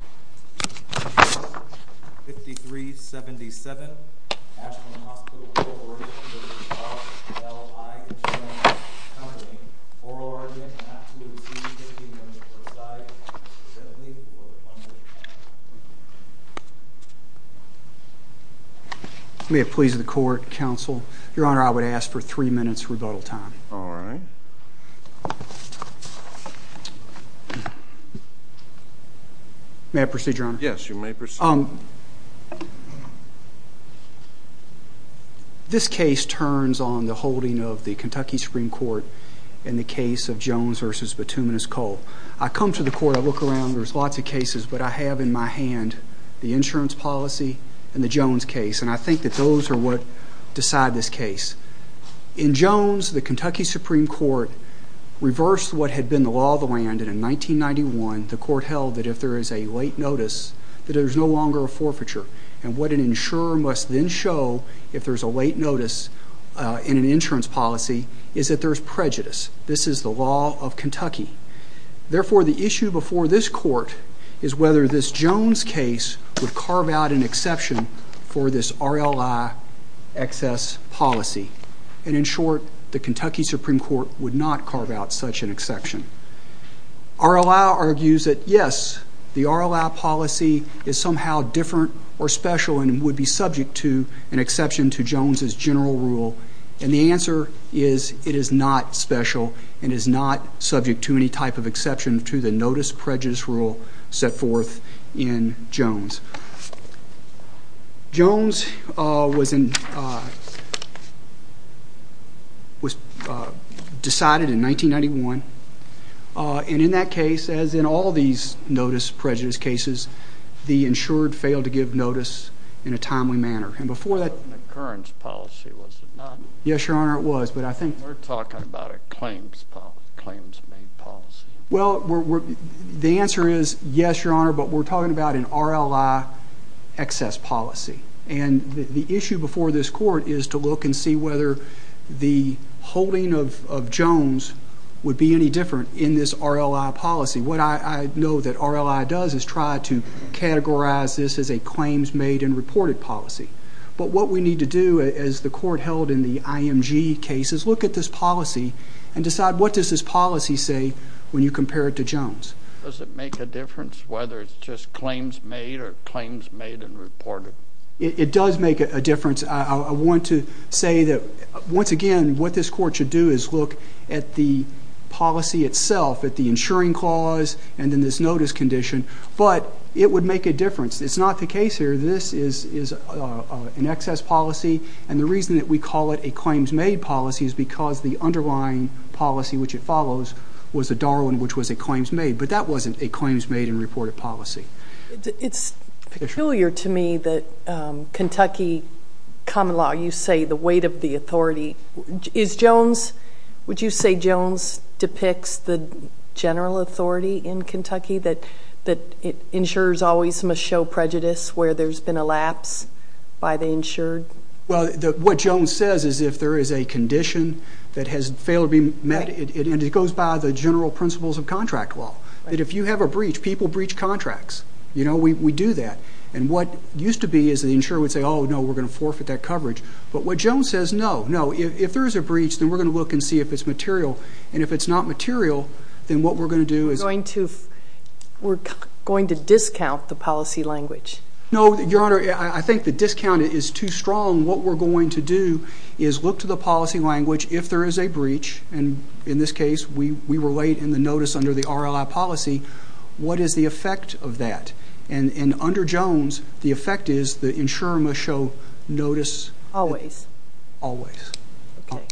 Coming in, oral argument and absolution 15 minutes per side, presently for the pundit panel. May it please the court, counsel, your honor, I would ask for three minutes rebuttal time. Alright. May I proceed, your honor? Yes, you may proceed. This case turns on the holding of the Kentucky Supreme Court in the case of Jones v. Petunias Cole. I come to the court, I look around, there's lots of cases, but I have in my hand the insurance policy and the Jones case, and I think that those are what decide this case. In Jones, the Kentucky Supreme Court reversed what had been the law of the land, and in 1991, the court held that if there is a late notice, that there's no longer a forfeiture, and what an insurer must then show if there's a late notice in an insurance policy is that there's prejudice. This is the law of Kentucky. Therefore, the issue before this court is whether this Jones case would carve out an for this RLI excess policy, and in short, the Kentucky Supreme Court would not carve out such an exception. RLI argues that yes, the RLI policy is somehow different or special and would be subject to an exception to Jones' general rule, and the answer is it is not special and is not Jones was decided in 1991, and in that case, as in all these notice prejudice cases, the insured failed to give notice in a timely manner, and before that An occurrence policy, was it not? Yes, Your Honor, it was, but I think We're talking about a claims-made policy Well, the answer is yes, Your Honor, but we're talking about an RLI excess policy, and the issue before this court is to look and see whether the holding of Jones would be any different in this RLI policy. What I know that RLI does is try to categorize this as a claims-made and reported policy, but what we need to do as the court held in the IMG case is look at this policy and decide what does this policy say when you compare it to Jones? Does it make a difference whether it's just claims-made or claims-made and reported? It does make a difference. I want to say that, once again, what this court should do is look at the policy itself, at the insuring clause, and then this notice condition, but it would make a difference. It's not the case here. This is an excess policy, and the reason that we call it a claims-made policy is because the underlying policy, which it follows, was a Darwin, which was a claims-made, but that wasn't a claims-made and reported policy. It's peculiar to me that Kentucky common law, you say the weight of the authority. Is Jones, would you say Jones depicts the general authority in Kentucky that insurers always must show prejudice where there's been a lapse by the insured? Well, what Jones says is if there is a condition that has failed to be met, and it goes by the general principles of contract law, that if you have a breach, people breach contracts. We do that, and what used to be is the insurer would say, oh, no, we're going to forfeit that coverage. But what Jones says, no, no. If there is a breach, then we're going to look and see if it's material, and if it's not material, then what we're going to do is- We're going to discount the policy language. No, Your Honor, I think the discount is too strong. What we're going to do is look to the policy language. If there is a breach, and in this case, we were late in the notice under the RLI policy, what is the effect of that? And under Jones, the effect is the insurer must show notice- Always. Always. Okay,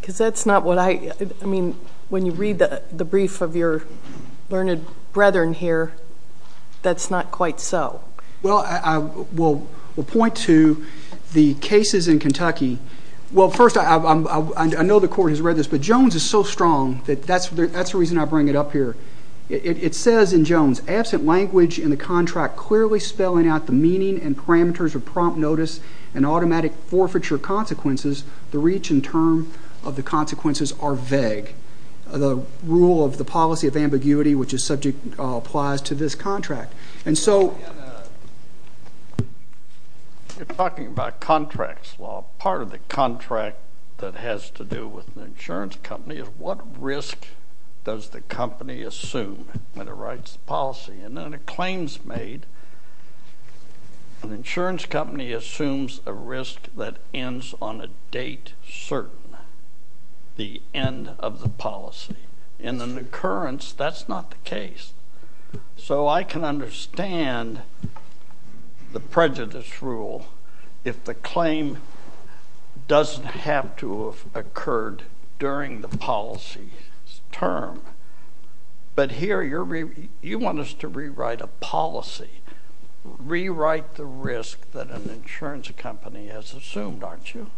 because that's not what I- I mean, when you read the brief of your learned brethren here, that's not quite so. Well, I will point to the cases in Kentucky. Well, first, I know the Court has read this, but Jones is so strong that that's the reason I bring it up here. It says in Jones, absent language in the contract clearly spelling out the meaning and parameters of prompt notice and automatic forfeiture consequences, the reach and term of the consequences are vague. The rule of the policy of ambiguity, which is subject, applies to this contract. And so- You're talking about contracts. Well, part of the contract that has to do with an insurance company is what risk does the company assume when it writes the policy? And then the claims made, an insurance company assumes a risk that ends on a date certain, the end of the policy. In an occurrence, that's not the case. So I can understand the prejudice rule if the claim doesn't have to have occurred during the policy term. But here you want us to rewrite a policy, rewrite the risk that an insurance company has assumed, aren't you?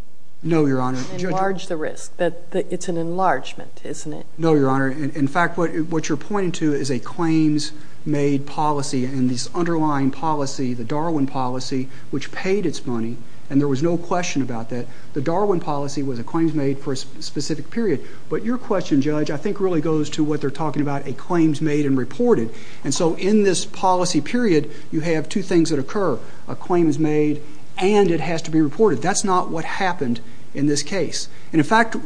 No, Your Honor. Enlarge the risk. It's an enlargement, isn't it? No, Your Honor. In fact, what you're pointing to is a claims made policy and this underlying policy, the Darwin policy, which paid its money. And there was no question about that. The Darwin policy was a claims made for a specific period. But your question, Judge, I think really goes to what they're talking about, a claims made and reported. And so in this policy period, you have two things that occur. A claim is made and it has to be reported. That's not what happened in this case. And, in fact,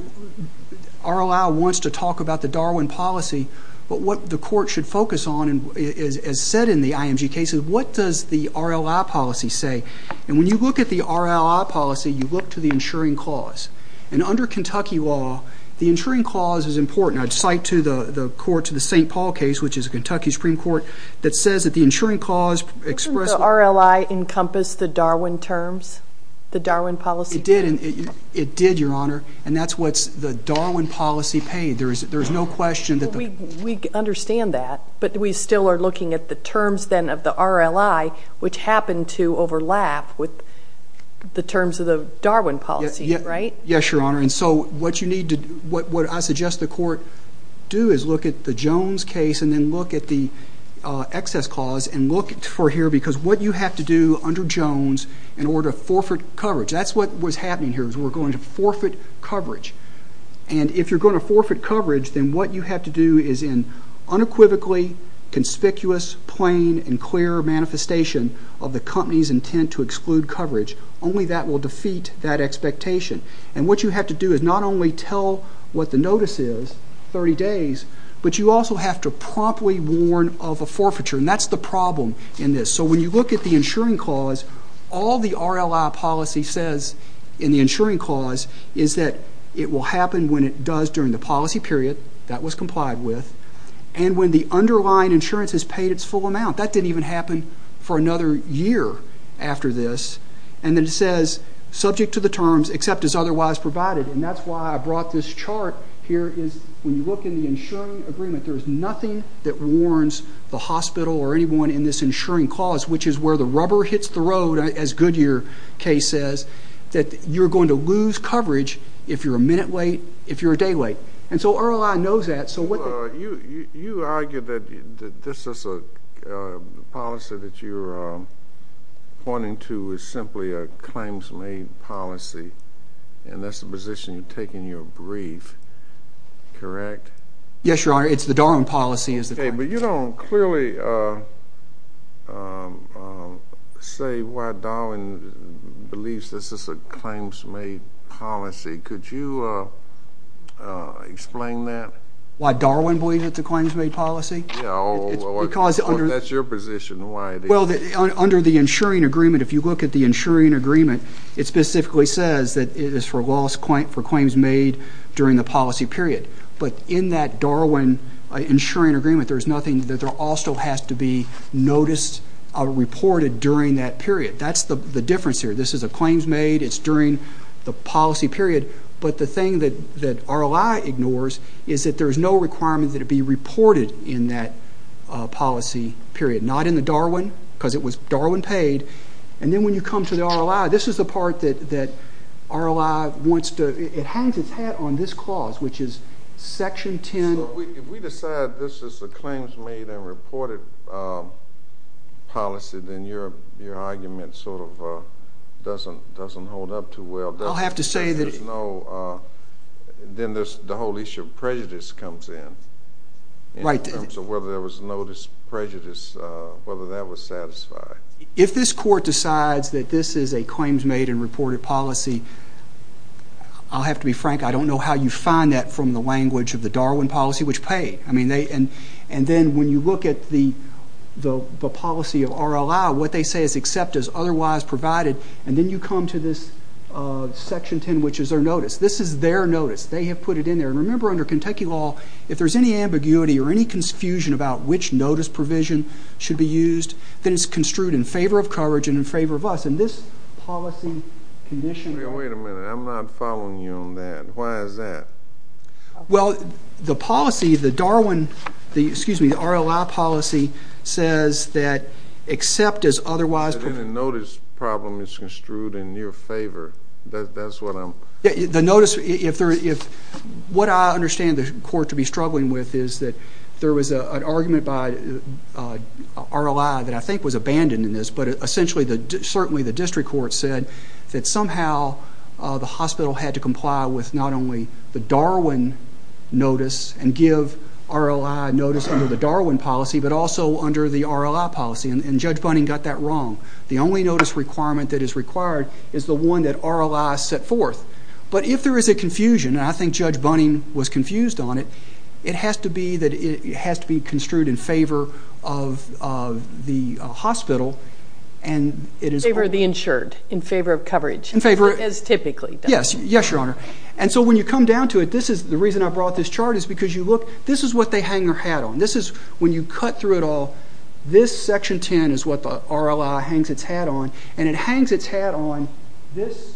RLI wants to talk about the Darwin policy, but what the court should focus on, as said in the IMG case, is what does the RLI policy say. And when you look at the RLI policy, you look to the insuring clause. And under Kentucky law, the insuring clause is important. I'd cite to the court, to the St. Paul case, which is a Kentucky Supreme Court, that says that the insuring clause expresses Does the RLI encompass the Darwin terms, the Darwin policy? It did, Your Honor. And that's what the Darwin policy paid. There's no question that the We understand that, but we still are looking at the terms then of the RLI, which happened to overlap with the terms of the Darwin policy, right? Yes, Your Honor. And so what I suggest the court do is look at the Jones case and then look at the excess clause and look for here, because what you have to do under Jones in order to forfeit coverage, that's what was happening here was we were going to forfeit coverage. And if you're going to forfeit coverage, then what you have to do is in unequivocally conspicuous, plain, and clear manifestation of the company's intent to exclude coverage. Only that will defeat that expectation. And what you have to do is not only tell what the notice is, 30 days, but you also have to promptly warn of a forfeiture, and that's the problem in this. So when you look at the insuring clause, all the RLI policy says in the insuring clause is that it will happen when it does during the policy period that was complied with and when the underlying insurance has paid its full amount. That didn't even happen for another year after this. And then it says, subject to the terms, except as otherwise provided. And that's why I brought this chart here is when you look in the insuring agreement, there is nothing that warns the hospital or anyone in this insuring clause, which is where the rubber hits the road, as Goodyear case says, that you're going to lose coverage if you're a minute late, if you're a day late. And so RLI knows that. You argue that this is a policy that you're pointing to is simply a claims-made policy, and that's the position you take in your brief, correct? Yes, Your Honor, it's the Darwin policy. Okay, but you don't clearly say why Darwin believes this is a claims-made policy. Could you explain that? Why Darwin believes it's a claims-made policy? That's your position. Well, under the insuring agreement, if you look at the insuring agreement, it specifically says that it is for claims made during the policy period. But in that Darwin insuring agreement, there is nothing that also has to be noticed or reported during that period. That's the difference here. This is a claims-made. It's during the policy period. But the thing that RLI ignores is that there is no requirement that it be reported in that policy period, not in the Darwin because it was Darwin-paid. And then when you come to the RLI, this is the part that RLI wants to do. It hangs its hat on this clause, which is Section 10. So if we decide this is a claims-made and reported policy, then your argument sort of doesn't hold up too well. I'll have to say that it's no. Then the whole issue of prejudice comes in in terms of whether there was no prejudice, whether that was satisfied. If this court decides that this is a claims-made and reported policy, I'll have to be frank. I don't know how you find that from the language of the Darwin policy, which paid. And then when you look at the policy of RLI, what they say is accept as otherwise provided. And then you come to this Section 10, which is their notice. This is their notice. They have put it in there. And remember under Kentucky law, if there's any ambiguity or any confusion about which notice provision should be used, then it's construed in favor of coverage and in favor of us. And this policy condition. Wait a minute. I'm not following you on that. Why is that? Well, the policy, the Darwin, excuse me, the RLI policy says that accept as otherwise. But in the notice problem, it's construed in your favor. That's what I'm. What I understand the court to be struggling with is that there was an argument by RLI that I think was abandoned in this. But essentially, certainly the district court said that somehow the hospital had to comply with not only the Darwin notice and give RLI notice under the Darwin policy, but also under the RLI policy. And Judge Bunning got that wrong. The only notice requirement that is required is the one that RLI set forth. But if there is a confusion, and I think Judge Bunning was confused on it, it has to be construed in favor of the hospital. In favor of the insured. In favor of coverage. In favor. As typically. Yes, Your Honor. And so when you come down to it, the reason I brought this chart is because you look. This is what they hang their hat on. When you cut through it all, this section 10 is what the RLI hangs its hat on. And it hangs its hat on this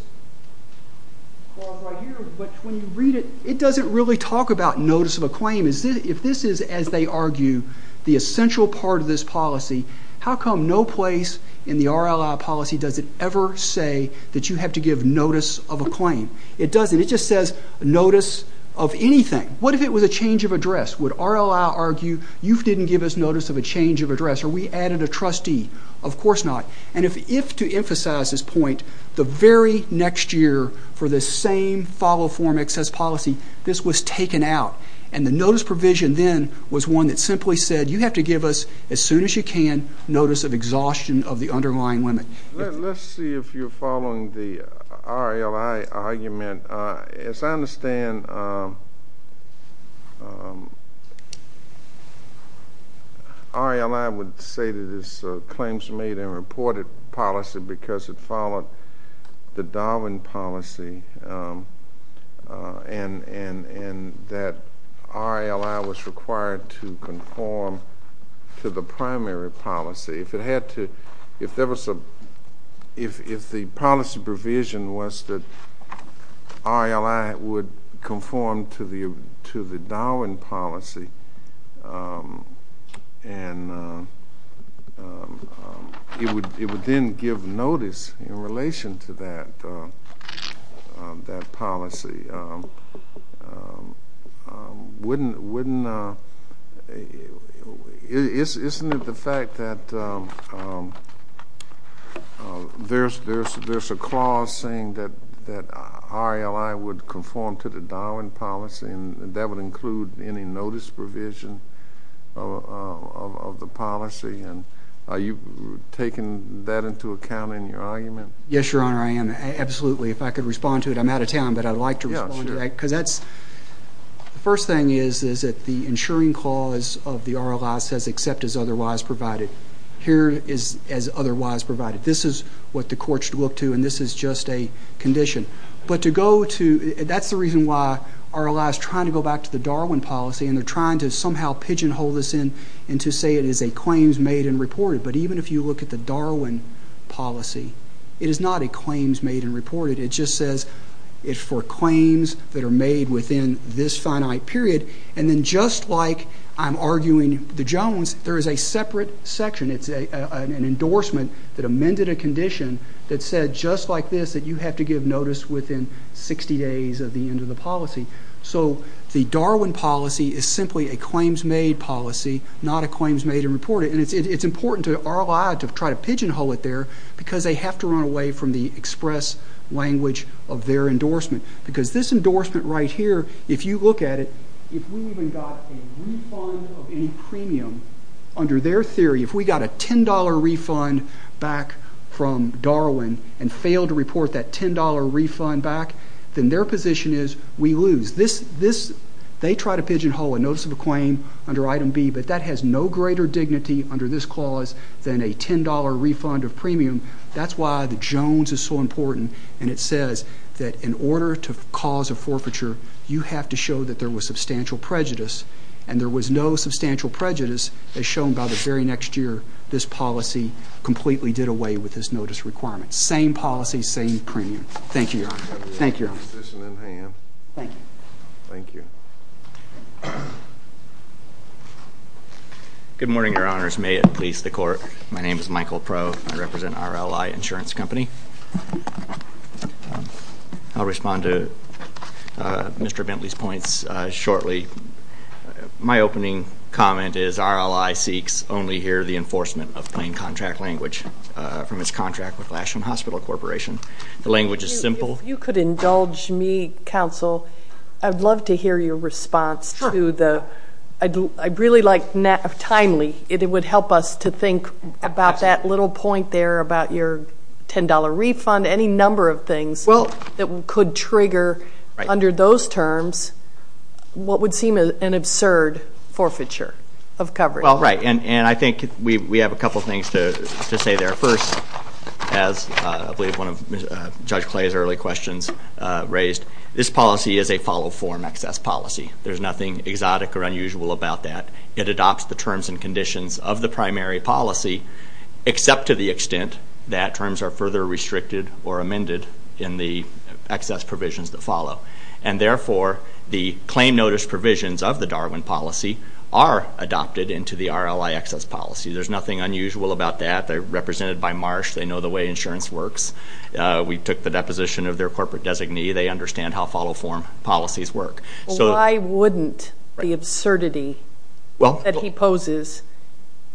clause right here. But when you read it, it doesn't really talk about notice of a claim. If this is, as they argue, the essential part of this policy, how come no place in the RLI policy does it ever say that you have to give notice of a claim? It doesn't. It just says notice of anything. What if it was a change of address? Would RLI argue you didn't give us notice of a change of address, or we added a trustee? Of course not. And if, to emphasize this point, the very next year for this same follow form excess policy, this was taken out, and the notice provision then was one that simply said you have to give us, as soon as you can, notice of exhaustion of the underlying limit. Let's see if you're following the RLI argument. As I understand, RLI would say that this claims made and reported policy because it followed the Darwin policy and that RLI was required to conform to the primary policy. If the policy provision was that RLI would conform to the Darwin policy, and it would then give notice in relation to that policy, wouldn't, isn't it the fact that there's a clause saying that RLI would conform to the Darwin policy and that would include any notice provision of the policy? Are you taking that into account in your argument? Yes, Your Honor, I am. Absolutely. If I could respond to it. I'm out of time, but I'd like to respond to that. Because that's, the first thing is that the insuring clause of the RLI says except as otherwise provided. Here it is as otherwise provided. This is what the court should look to, and this is just a condition. But to go to, that's the reason why RLI is trying to go back to the Darwin policy, and they're trying to somehow pigeonhole this in and to say it is a claims made and reported. But even if you look at the Darwin policy, it is not a claims made and reported. It just says it's for claims that are made within this finite period. And then just like I'm arguing the Jones, there is a separate section. It's an endorsement that amended a condition that said just like this, that you have to give notice within 60 days of the end of the policy. So the Darwin policy is simply a claims made policy, not a claims made and reported. And it's important to RLI to try to pigeonhole it there because they have to run away from the express language of their endorsement. Because this endorsement right here, if you look at it, if we even got a refund of any premium under their theory, if we got a $10 refund back from Darwin and failed to report that $10 refund back, then their position is we lose. They try to pigeonhole a notice of a claim under item B, but that has no greater dignity under this clause than a $10 refund of premium. That's why the Jones is so important. And it says that in order to cause a forfeiture, you have to show that there was substantial prejudice. And there was no substantial prejudice as shown by the very next year. This policy completely did away with this notice requirement. Same policy, same premium. Thank you, Your Honor. Thank you. Good morning, Your Honors. May it please the Court. My name is Michael Proe. I represent RLI Insurance Company. I'll respond to Mr. Bentley's points shortly. My opening comment is RLI seeks only here the enforcement of plain contract language from its contract with Lasham Hospital Corporation. The language is simple. If you could indulge me, Counsel, I'd love to hear your response. Sure. I'd really like timely. It would help us to think about that little point there about your $10 refund, any number of things that could trigger, under those terms, what would seem an absurd forfeiture of coverage. Right. And I think we have a couple things to say there. First, as I believe one of Judge Clay's early questions raised, this policy is a follow-form excess policy. There's nothing exotic or unusual about that. It adopts the terms and conditions of the primary policy, except to the extent that terms are further restricted or amended in the excess provisions that follow. And therefore, the claim notice provisions of the Darwin policy are adopted into the RLI excess policy. There's nothing unusual about that. They're represented by Marsh. They know the way insurance works. We took the deposition of their corporate designee. They understand how follow-form policies work. Why wouldn't the absurdity that he poses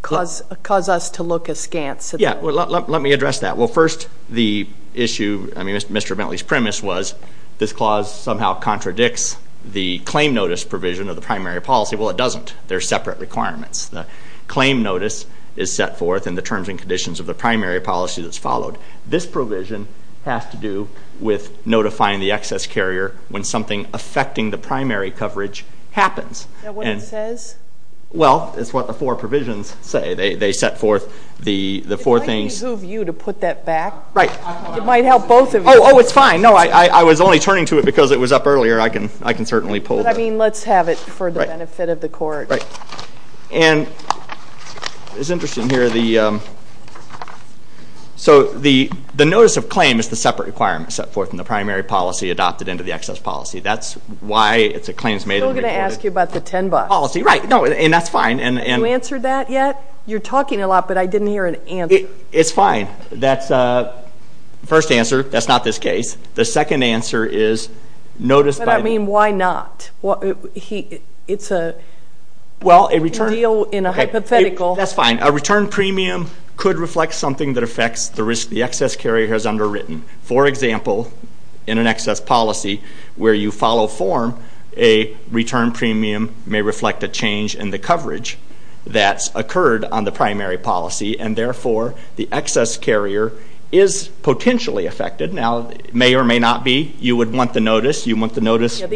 cause us to look askance? Yeah. Let me address that. Well, first, the issue, I mean, Mr. Bentley's premise was this clause somehow contradicts the claim notice provision of the primary policy. Well, it doesn't. They're separate requirements. The claim notice is set forth in the terms and conditions of the primary policy that's followed. This provision has to do with notifying the excess carrier when something affecting the primary coverage happens. Is that what it says? Well, it's what the four provisions say. They set forth the four things. It might behoove you to put that back. Right. It might help both of you. Oh, it's fine. No, I was only turning to it because it was up earlier. I can certainly pull it. But, I mean, let's have it for the benefit of the Court. Right. And it's interesting here. So the notice of claim is the separate requirement set forth in the primary policy adopted into the excess policy. That's why it's a claims made and recorded policy. I'm still going to ask you about the 10 bucks. Right. No, and that's fine. Have you answered that yet? You're talking a lot, but I didn't hear an answer. It's fine. That's the first answer. That's not this case. The second answer is notice by the. I mean, why not? It's a deal in a hypothetical. That's fine. A return premium could reflect something that affects the risk the excess carrier has underwritten. For example, in an excess policy where you follow form, a return premium may reflect a change in the coverage that's occurred on the primary policy. And, therefore, the excess carrier is potentially affected. Now, it may or may not be. You would want the notice. The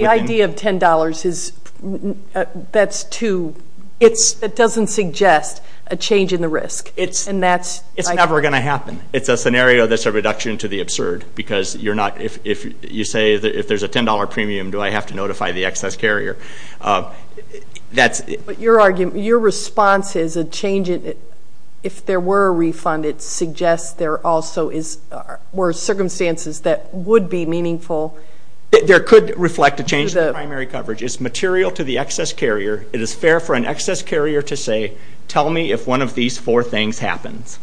idea of $10, that's too, it doesn't suggest a change in the risk. It's never going to happen. It's a scenario that's a reduction to the absurd because you're not, if you say if there's a $10 premium, do I have to notify the excess carrier? Your response is a change in, if there were a refund, it suggests there also were circumstances that would be meaningful. There could reflect a change in the primary coverage. It's material to the excess carrier. It is fair for an excess carrier to say, tell me if one of these four things happens.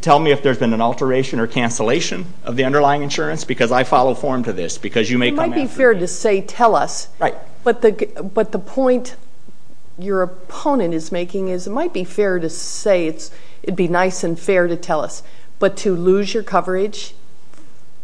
Tell me if there's been an alteration or cancellation of the underlying insurance because I follow form to this because you may come after me. It might be fair to say tell us, but the point your opponent is making is it might be fair to say it'd be nice and fair to tell us, but to lose your coverage,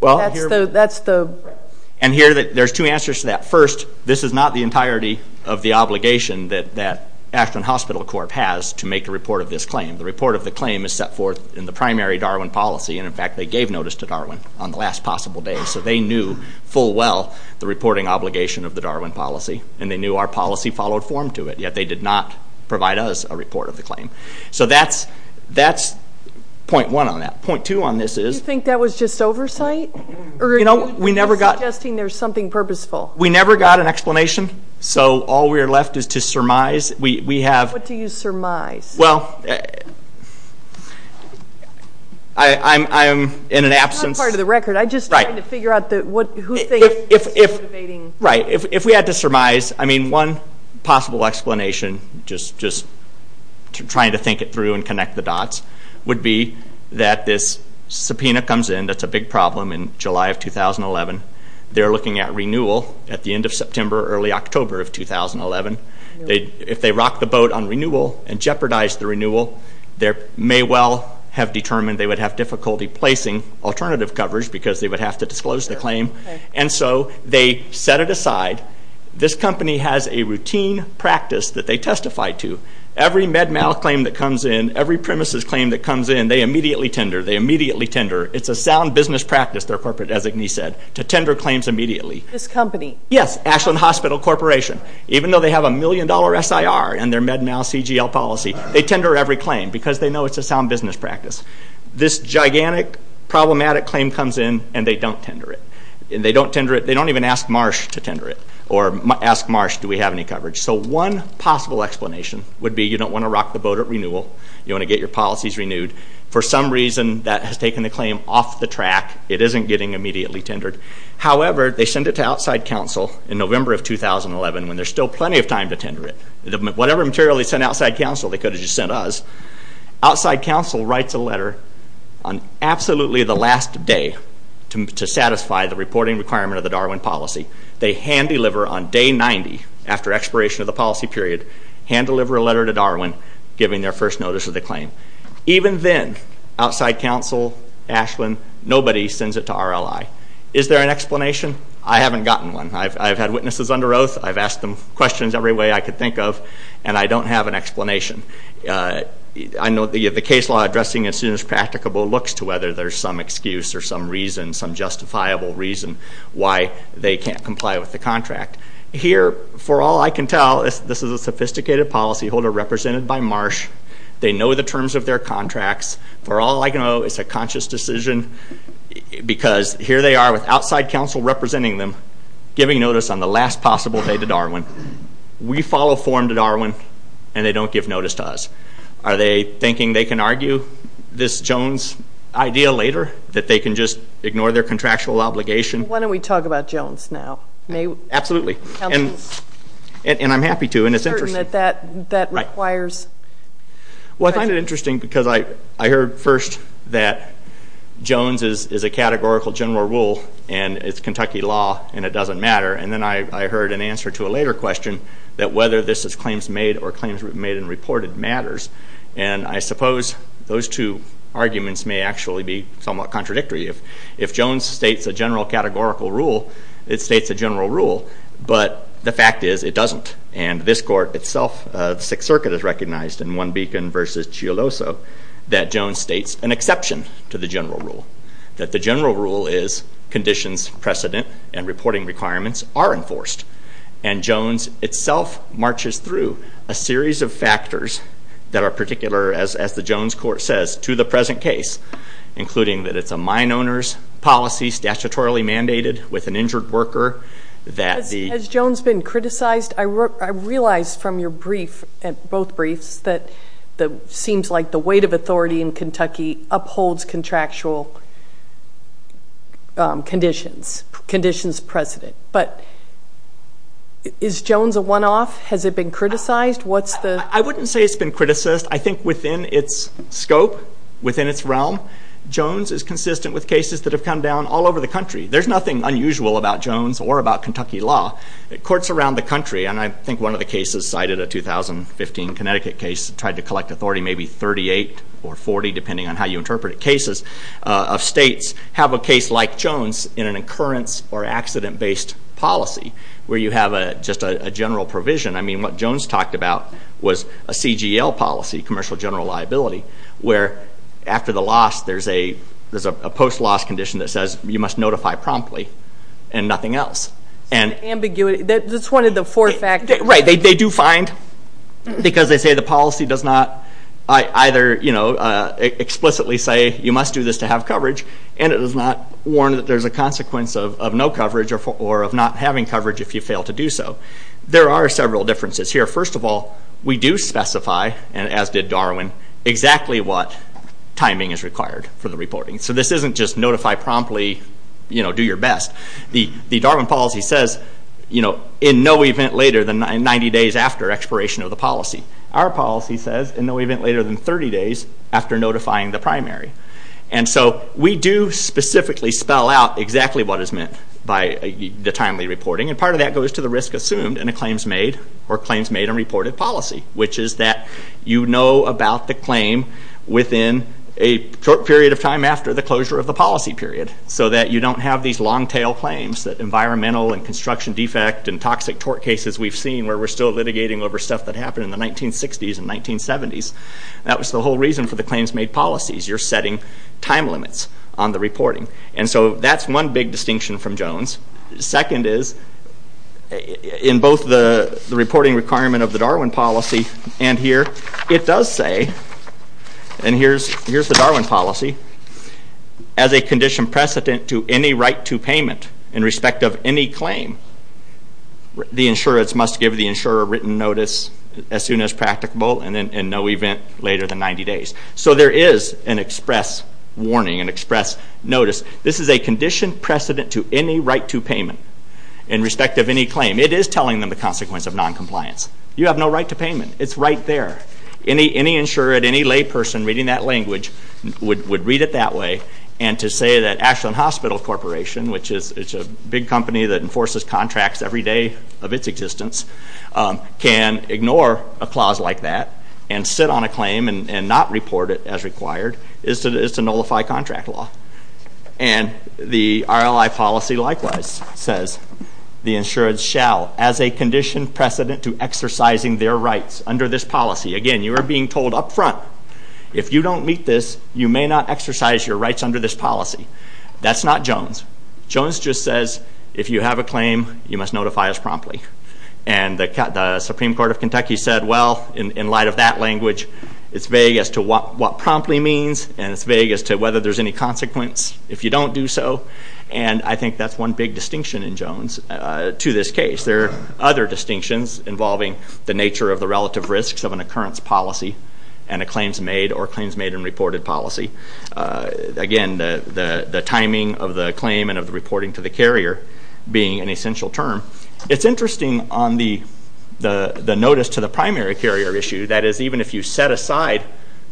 that's the... And here there's two answers to that. First, this is not the entirety of the obligation that Ashland Hospital Corp has to make a report of this claim. The report of the claim is set forth in the primary Darwin policy, and in fact they gave notice to Darwin on the last possible day, so they knew full well the reporting obligation of the Darwin policy, and they knew our policy followed form to it, yet they did not provide us a report of the claim. So that's point one on that. Point two on this is... You think that was just oversight? Or are you suggesting there's something purposeful? We never got an explanation, so all we're left is to surmise. What do you surmise? Well, I'm in an absence... It's not part of the record. I'm just trying to figure out who thinks... Right. If we had to surmise, I mean one possible explanation, just trying to think it through and connect the dots, would be that this subpoena comes in. That's a big problem in July of 2011. They're looking at renewal at the end of September, early October of 2011. If they rock the boat on renewal and jeopardize the renewal, they may well have determined they would have difficulty placing alternative coverage because they would have to disclose the claim, and so they set it aside. This company has a routine practice that they testify to. Every MedMal claim that comes in, every premises claim that comes in, they immediately tender. They immediately tender. It's a sound business practice, their corporate designee said, to tender claims immediately. This company? Yes, Ashland Hospital Corporation. Even though they have a million-dollar SIR in their MedMal CGL policy, they tender every claim because they know it's a sound business practice. This gigantic, problematic claim comes in, and they don't tender it. They don't even ask Marsh to tender it or ask Marsh, do we have any coverage? So one possible explanation would be you don't want to rock the boat at renewal. You want to get your policies renewed. For some reason, that has taken the claim off the track. It isn't getting immediately tendered. However, they send it to outside counsel in November of 2011 when there's still plenty of time to tender it. Whatever material they sent outside counsel, they could have just sent us. Outside counsel writes a letter on absolutely the last day to satisfy the reporting requirement of the Darwin policy. They hand-deliver on day 90, after expiration of the policy period, hand-deliver a letter to Darwin giving their first notice of the claim. Even then, outside counsel, Ashland, nobody sends it to RLI. Is there an explanation? I haven't gotten one. I've had witnesses under oath. I've asked them questions every way I could think of, and I don't have an explanation. I know the case law addressing as soon as practicable looks to whether there's some excuse or some reason, some justifiable reason why they can't comply with the contract. Here, for all I can tell, this is a sophisticated policyholder represented by Marsh. They know the terms of their contracts. For all I can know, it's a conscious decision because here they are with outside counsel representing them, giving notice on the last possible day to Darwin. We follow form to Darwin, and they don't give notice to us. Are they thinking they can argue this Jones idea later, that they can just ignore their contractual obligation? Why don't we talk about Jones now? Absolutely, and I'm happy to. I'm certain that that requires... Well, I find it interesting because I heard first that Jones is a categorical general rule, and it's Kentucky law, and it doesn't matter. Then I heard an answer to a later question that whether this is claims made or claims made and reported matters. I suppose those two arguments may actually be somewhat contradictory. If Jones states a general categorical rule, it states a general rule, but the fact is it doesn't. This court itself, the Sixth Circuit, has recognized in One Beacon v. Chialoso that Jones states an exception to the general rule, that the general rule is conditions precedent and reporting requirements are enforced. Jones itself marches through a series of factors that are particular, as the Jones court says, to the present case, including that it's a mine owner's policy statutorily mandated with an injured worker that the... Has Jones been criticized? I realize from your brief, both briefs, that it seems like the weight of authority in Kentucky upholds contractual conditions, conditions precedent. But is Jones a one-off? Has it been criticized? What's the... I wouldn't say it's been criticized. I think within its scope, within its realm, Jones is consistent with cases that have come down all over the country. There's nothing unusual about Jones or about Kentucky law. Courts around the country, and I think one of the cases cited, a 2015 Connecticut case, tried to collect authority, maybe 38 or 40, depending on how you interpret it, cases of states have a case like Jones in an occurrence or accident-based policy where you have just a general provision. I mean, what Jones talked about was a CGL policy, commercial general liability, where after the loss there's a post-loss condition that says you must notify promptly and nothing else. It's an ambiguity. That's one of the four factors. Right. They do find, because they say the policy does not either explicitly say you must do this to have coverage, and it does not warn that there's a consequence of no coverage or of not having coverage if you fail to do so. There are several differences here. First of all, we do specify, as did Darwin, exactly what timing is required for the reporting. This isn't just notify promptly, do your best. The Darwin policy says in no event later than 90 days after expiration of the policy. Our policy says in no event later than 30 days after notifying the primary. We do specifically spell out exactly what is meant by the timely reporting, and part of that goes to the risk assumed in a claims made or claims made and reported policy, which is that you know about the claim within a short period of time after the closure of the policy period so that you don't have these long tail claims that environmental and construction defect and toxic tort cases we've seen where we're still litigating over stuff that happened in the 1960s and 1970s. That was the whole reason for the claims made policies. You're setting time limits on the reporting. That's one big distinction from Jones. Second is, in both the reporting requirement of the Darwin policy and here, it does say, and here's the Darwin policy, as a condition precedent to any right to payment in respect of any claim, the insurer must give the insurer a written notice as soon as practicable and in no event later than 90 days. So there is an express warning, an express notice. This is a condition precedent to any right to payment in respect of any claim. It is telling them the consequence of noncompliance. You have no right to payment. It's right there. Any insurer, any layperson reading that language would read it that way and to say that Ashland Hospital Corporation, which is a big company that enforces contracts every day of its existence, can ignore a clause like that and sit on a claim and not report it as required is to nullify contract law. And the RLI policy likewise says the insured shall, as a condition precedent to exercising their rights under this policy. Again, you are being told up front, if you don't meet this, you may not exercise your rights under this policy. That's not Jones. Jones just says, if you have a claim, you must notify us promptly. And the Supreme Court of Kentucky said, well, in light of that language, it's vague as to what promptly means and it's vague as to whether there's any consequence if you don't do so. And I think that's one big distinction in Jones to this case. There are other distinctions involving the nature of the relative risks of an occurrence policy and a claims made or claims made and reported policy. Again, the timing of the claim and of the reporting to the carrier being an essential term. It's interesting on the notice to the primary carrier issue, that is, even if you set aside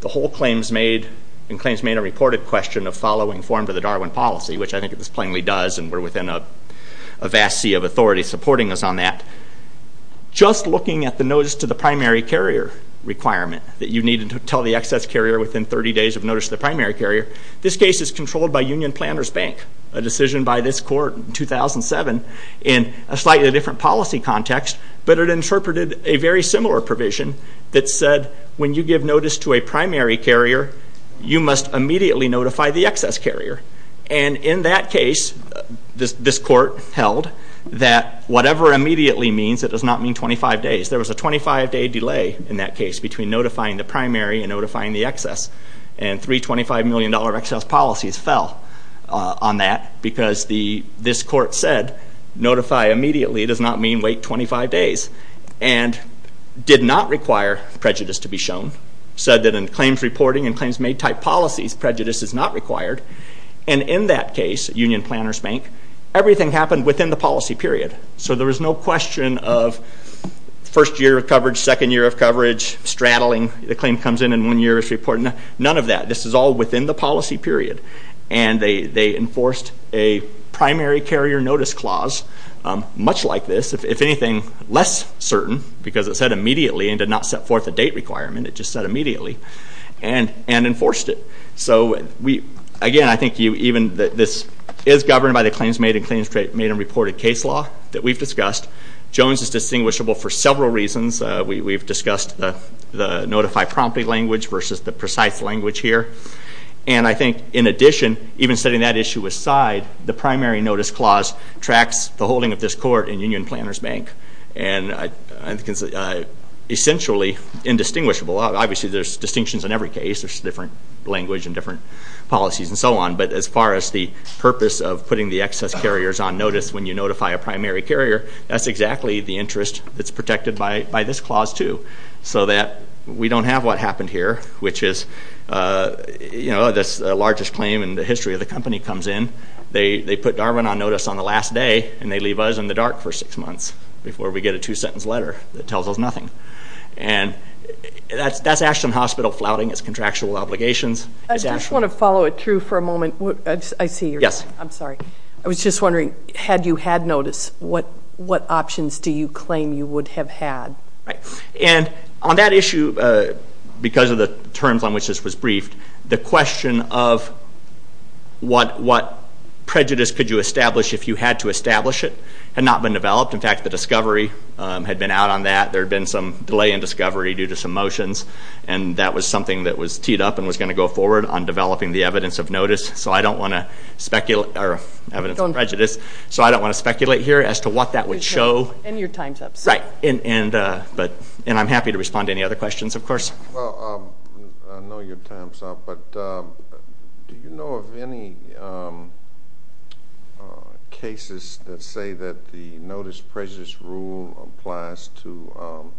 the whole claims made and claims made and reported question of following form to the Darwin policy, which I think it just plainly does and we're within a vast sea of authority supporting us on that. Just looking at the notice to the primary carrier requirement that you needed to tell the excess carrier within 30 days of notice to the primary carrier, this case is controlled by Union Planners Bank, a decision by this court in 2007 in a slightly different policy context, but it interpreted a very similar provision that said when you give notice to a primary carrier, you must immediately notify the excess carrier. In that case, this court held that whatever immediately means, it does not mean 25 days. There was a 25-day delay in that case between notifying the primary and notifying the excess. Three $25 million excess policies fell on that because this court said notify immediately does not mean wait 25 days and did not require prejudice to be shown. Said that in claims reporting and claims made type policies, prejudice is not required. In that case, Union Planners Bank, everything happened within the policy period. There was no question of first year of coverage, second year of coverage, straddling. The claim comes in and one year is reported. None of that. This is all within the policy period. They enforced a primary carrier notice clause much like this. If anything, less certain because it said immediately and did not set forth a date requirement. It just said immediately and enforced it. Again, I think this is governed by the claims made and claims made and reported case law that we've discussed. Jones is distinguishable for several reasons. We've discussed the notify promptly language versus the precise language here. I think in addition, even setting that issue aside, the primary notice clause tracks the holding of this court in Union Planners Bank. I think it's essentially indistinguishable. Obviously, there's distinctions in every case. There's different language and different policies and so on. But as far as the purpose of putting the excess carriers on notice when you notify a primary carrier, that's exactly the interest that's protected by this clause too so that we don't have what happened here which is the largest claim in the history of the company comes in. They put Darwin on notice on the last day and they leave us in the dark for six months before we get a two-sentence letter that tells us nothing. And that's Ashton Hospital flouting its contractual obligations. I just want to follow it through for a moment. I see you. Yes. I'm sorry. I was just wondering, had you had notice, what options do you claim you would have had? Right. And on that issue, because of the terms on which this was briefed, the question of what prejudice could you establish if you had to establish it had not been developed. In fact, the discovery had been out on that. There had been some delay in discovery due to some motions. And that was something that was teed up and was going to go forward on developing the evidence of notice. So I don't want to speculate or evidence of prejudice. So I don't want to speculate here as to what that would show. And your time's up. Right. And I'm happy to respond to any other questions, of course. Well, I know your time's up, but do you know of any cases that say that the notice prejudice rule applies to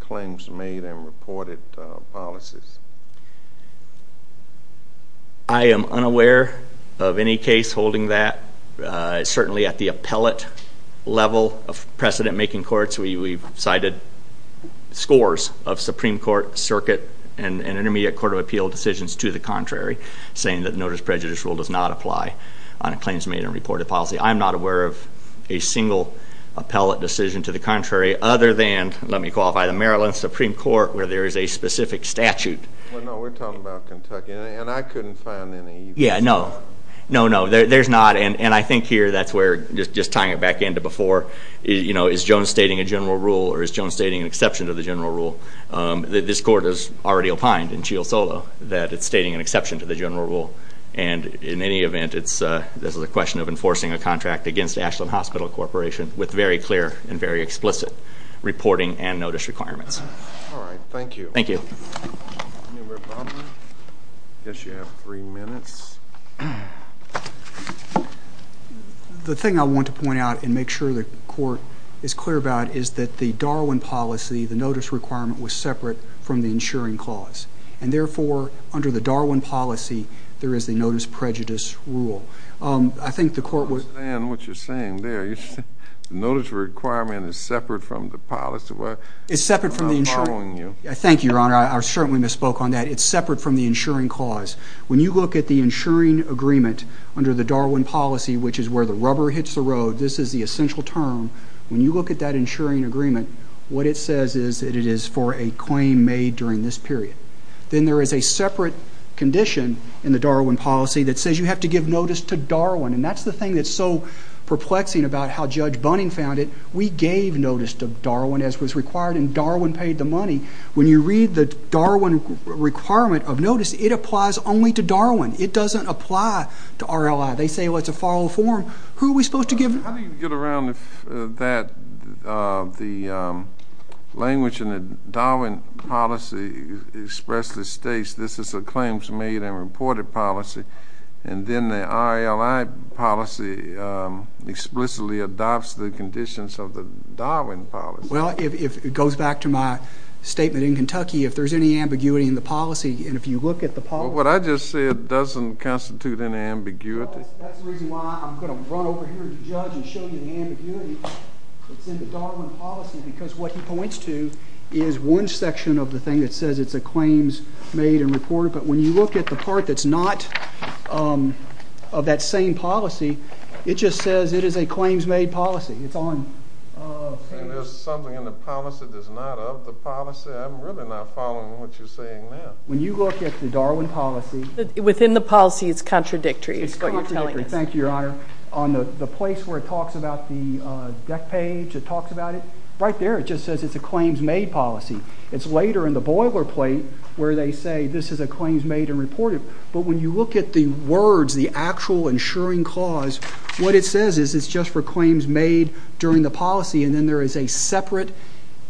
claims made and reported policies? I am unaware of any case holding that. Certainly at the appellate level of precedent-making courts, we've cited scores of Supreme Court, Circuit, and Intermediate Court of Appeal decisions to the contrary, saying that the notice prejudice rule does not apply on claims made and reported policy. I am not aware of a single appellate decision to the contrary, other than, let me qualify, the Maryland Supreme Court, where there is a specific statute. Well, no, we're talking about Kentucky, and I couldn't find any. Yeah, no. No, no, there's not. And I think here that's where, just tying it back into before, you know, is Jones stating a general rule, or is Jones stating an exception to the general rule? This court has already opined in Chial Solo that it's stating an exception to the general rule, and in any event, this is a question of enforcing a contract against Ashland Hospital Corporation with very clear and very explicit reporting and notice requirements. All right, thank you. Thank you. I guess you have three minutes. The thing I want to point out and make sure the court is clear about is that the Darwin policy, the notice requirement, was separate from the insuring clause. And therefore, under the Darwin policy, there is the notice prejudice rule. I think the court would... I don't understand what you're saying there. You're saying the notice requirement is separate from the policy. It's separate from the insuring. I'm not following you. Thank you, Your Honor. I certainly misspoke on that. It's separate from the insuring clause. When you look at the insuring agreement under the Darwin policy, which is where the rubber hits the road, this is the essential term. When you look at that insuring agreement, what it says is that it is for a claim made during this period. Then there is a separate condition in the Darwin policy that says you have to give notice to Darwin. And that's the thing that's so perplexing about how Judge Bunning found it. We gave notice to Darwin as was required and Darwin paid the money. When you read the Darwin requirement of notice, it applies only to Darwin. It doesn't apply to RLI. They say, well, it's a follow form. Who are we supposed to give notice to? How do you get around that the language in the Darwin policy expressly states this is a claims made and reported policy and then the RLI policy explicitly adopts the conditions of the Darwin policy? Well, it goes back to my statement in Kentucky. If there's any ambiguity in the policy and if you look at the policy... What I just said doesn't constitute any ambiguity. That's the reason why I'm going to run over here to the judge and show you the ambiguity that's in the Darwin policy because what he points to is one section of the thing that says it's a claims made and reported. But when you look at the part that's not of that same policy, it just says it is a claims made policy. It's on... There's something in the policy that's not of the policy. I'm really not following what you're saying there. When you look at the Darwin policy... Within the policy, it's contradictory. It's contradictory. Thank you, Your Honor. On the place where it talks about the deck page, it talks about it. Right there it just says it's a claims made policy. It's later in the boilerplate where they say this is a claims made and reported. But when you look at the words, the actual insuring clause, what it says is it's just for claims made during the policy and then there is a separate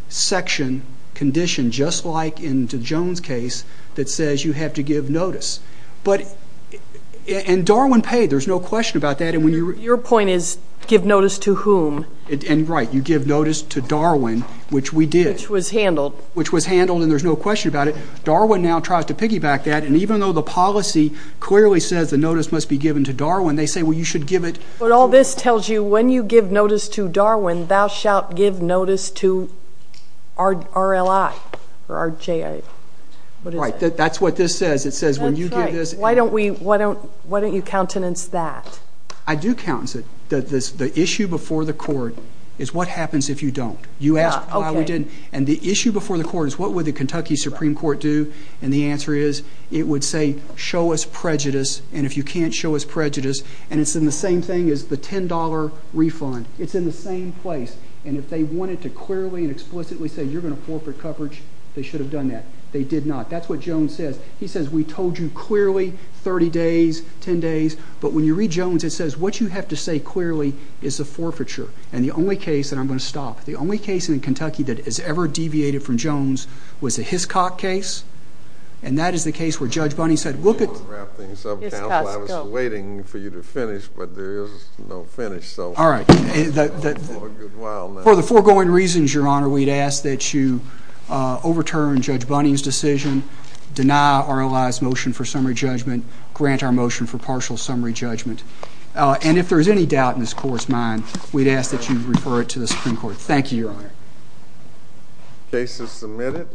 section condition just like in the Jones case that says you have to give notice. And Darwin paid. There's no question about that. Your point is give notice to whom? Right. You give notice to Darwin, which we did. Which was handled. Which was handled and there's no question about it. Darwin now tries to piggyback that and even though the policy clearly says the notice must be given to Darwin, they say you should give it... But all this tells you when you give notice to Darwin, thou shalt give notice to RLI or RJI. Right. That's what this says. That's right. Why don't you countenance that? I do countenance it. The issue before the court is what happens if you don't. You ask why we didn't. And the issue before the court is what would the Kentucky Supreme Court do and the answer is it would say show us prejudice and if you can't show us prejudice and it's in the same thing as the $10 refund. It's in the same place and if they wanted to clearly and explicitly say you're going to forfeit coverage, they should have done that. They did not. That's what Jones says. He says we told you clearly 30 days, 10 days, but when you read Jones, it says what you have to say clearly is a forfeiture and the only case, and I'm going to stop, the only case in Kentucky that has ever deviated from Jones was the Hiscock case and that is the case where Judge Bunning said look at... Wrap things up, counsel. I was waiting for you to finish but there is no finish so... All right. For the foregoing reasons, Your Honor, we'd ask that you overturn Judge Bunning's decision, deny our realized motion for summary judgment, grant our motion for partial summary judgment, and if there is any doubt in this court's mind, we'd ask that you refer it to the Supreme Court. Thank you, Your Honor. Case is submitted.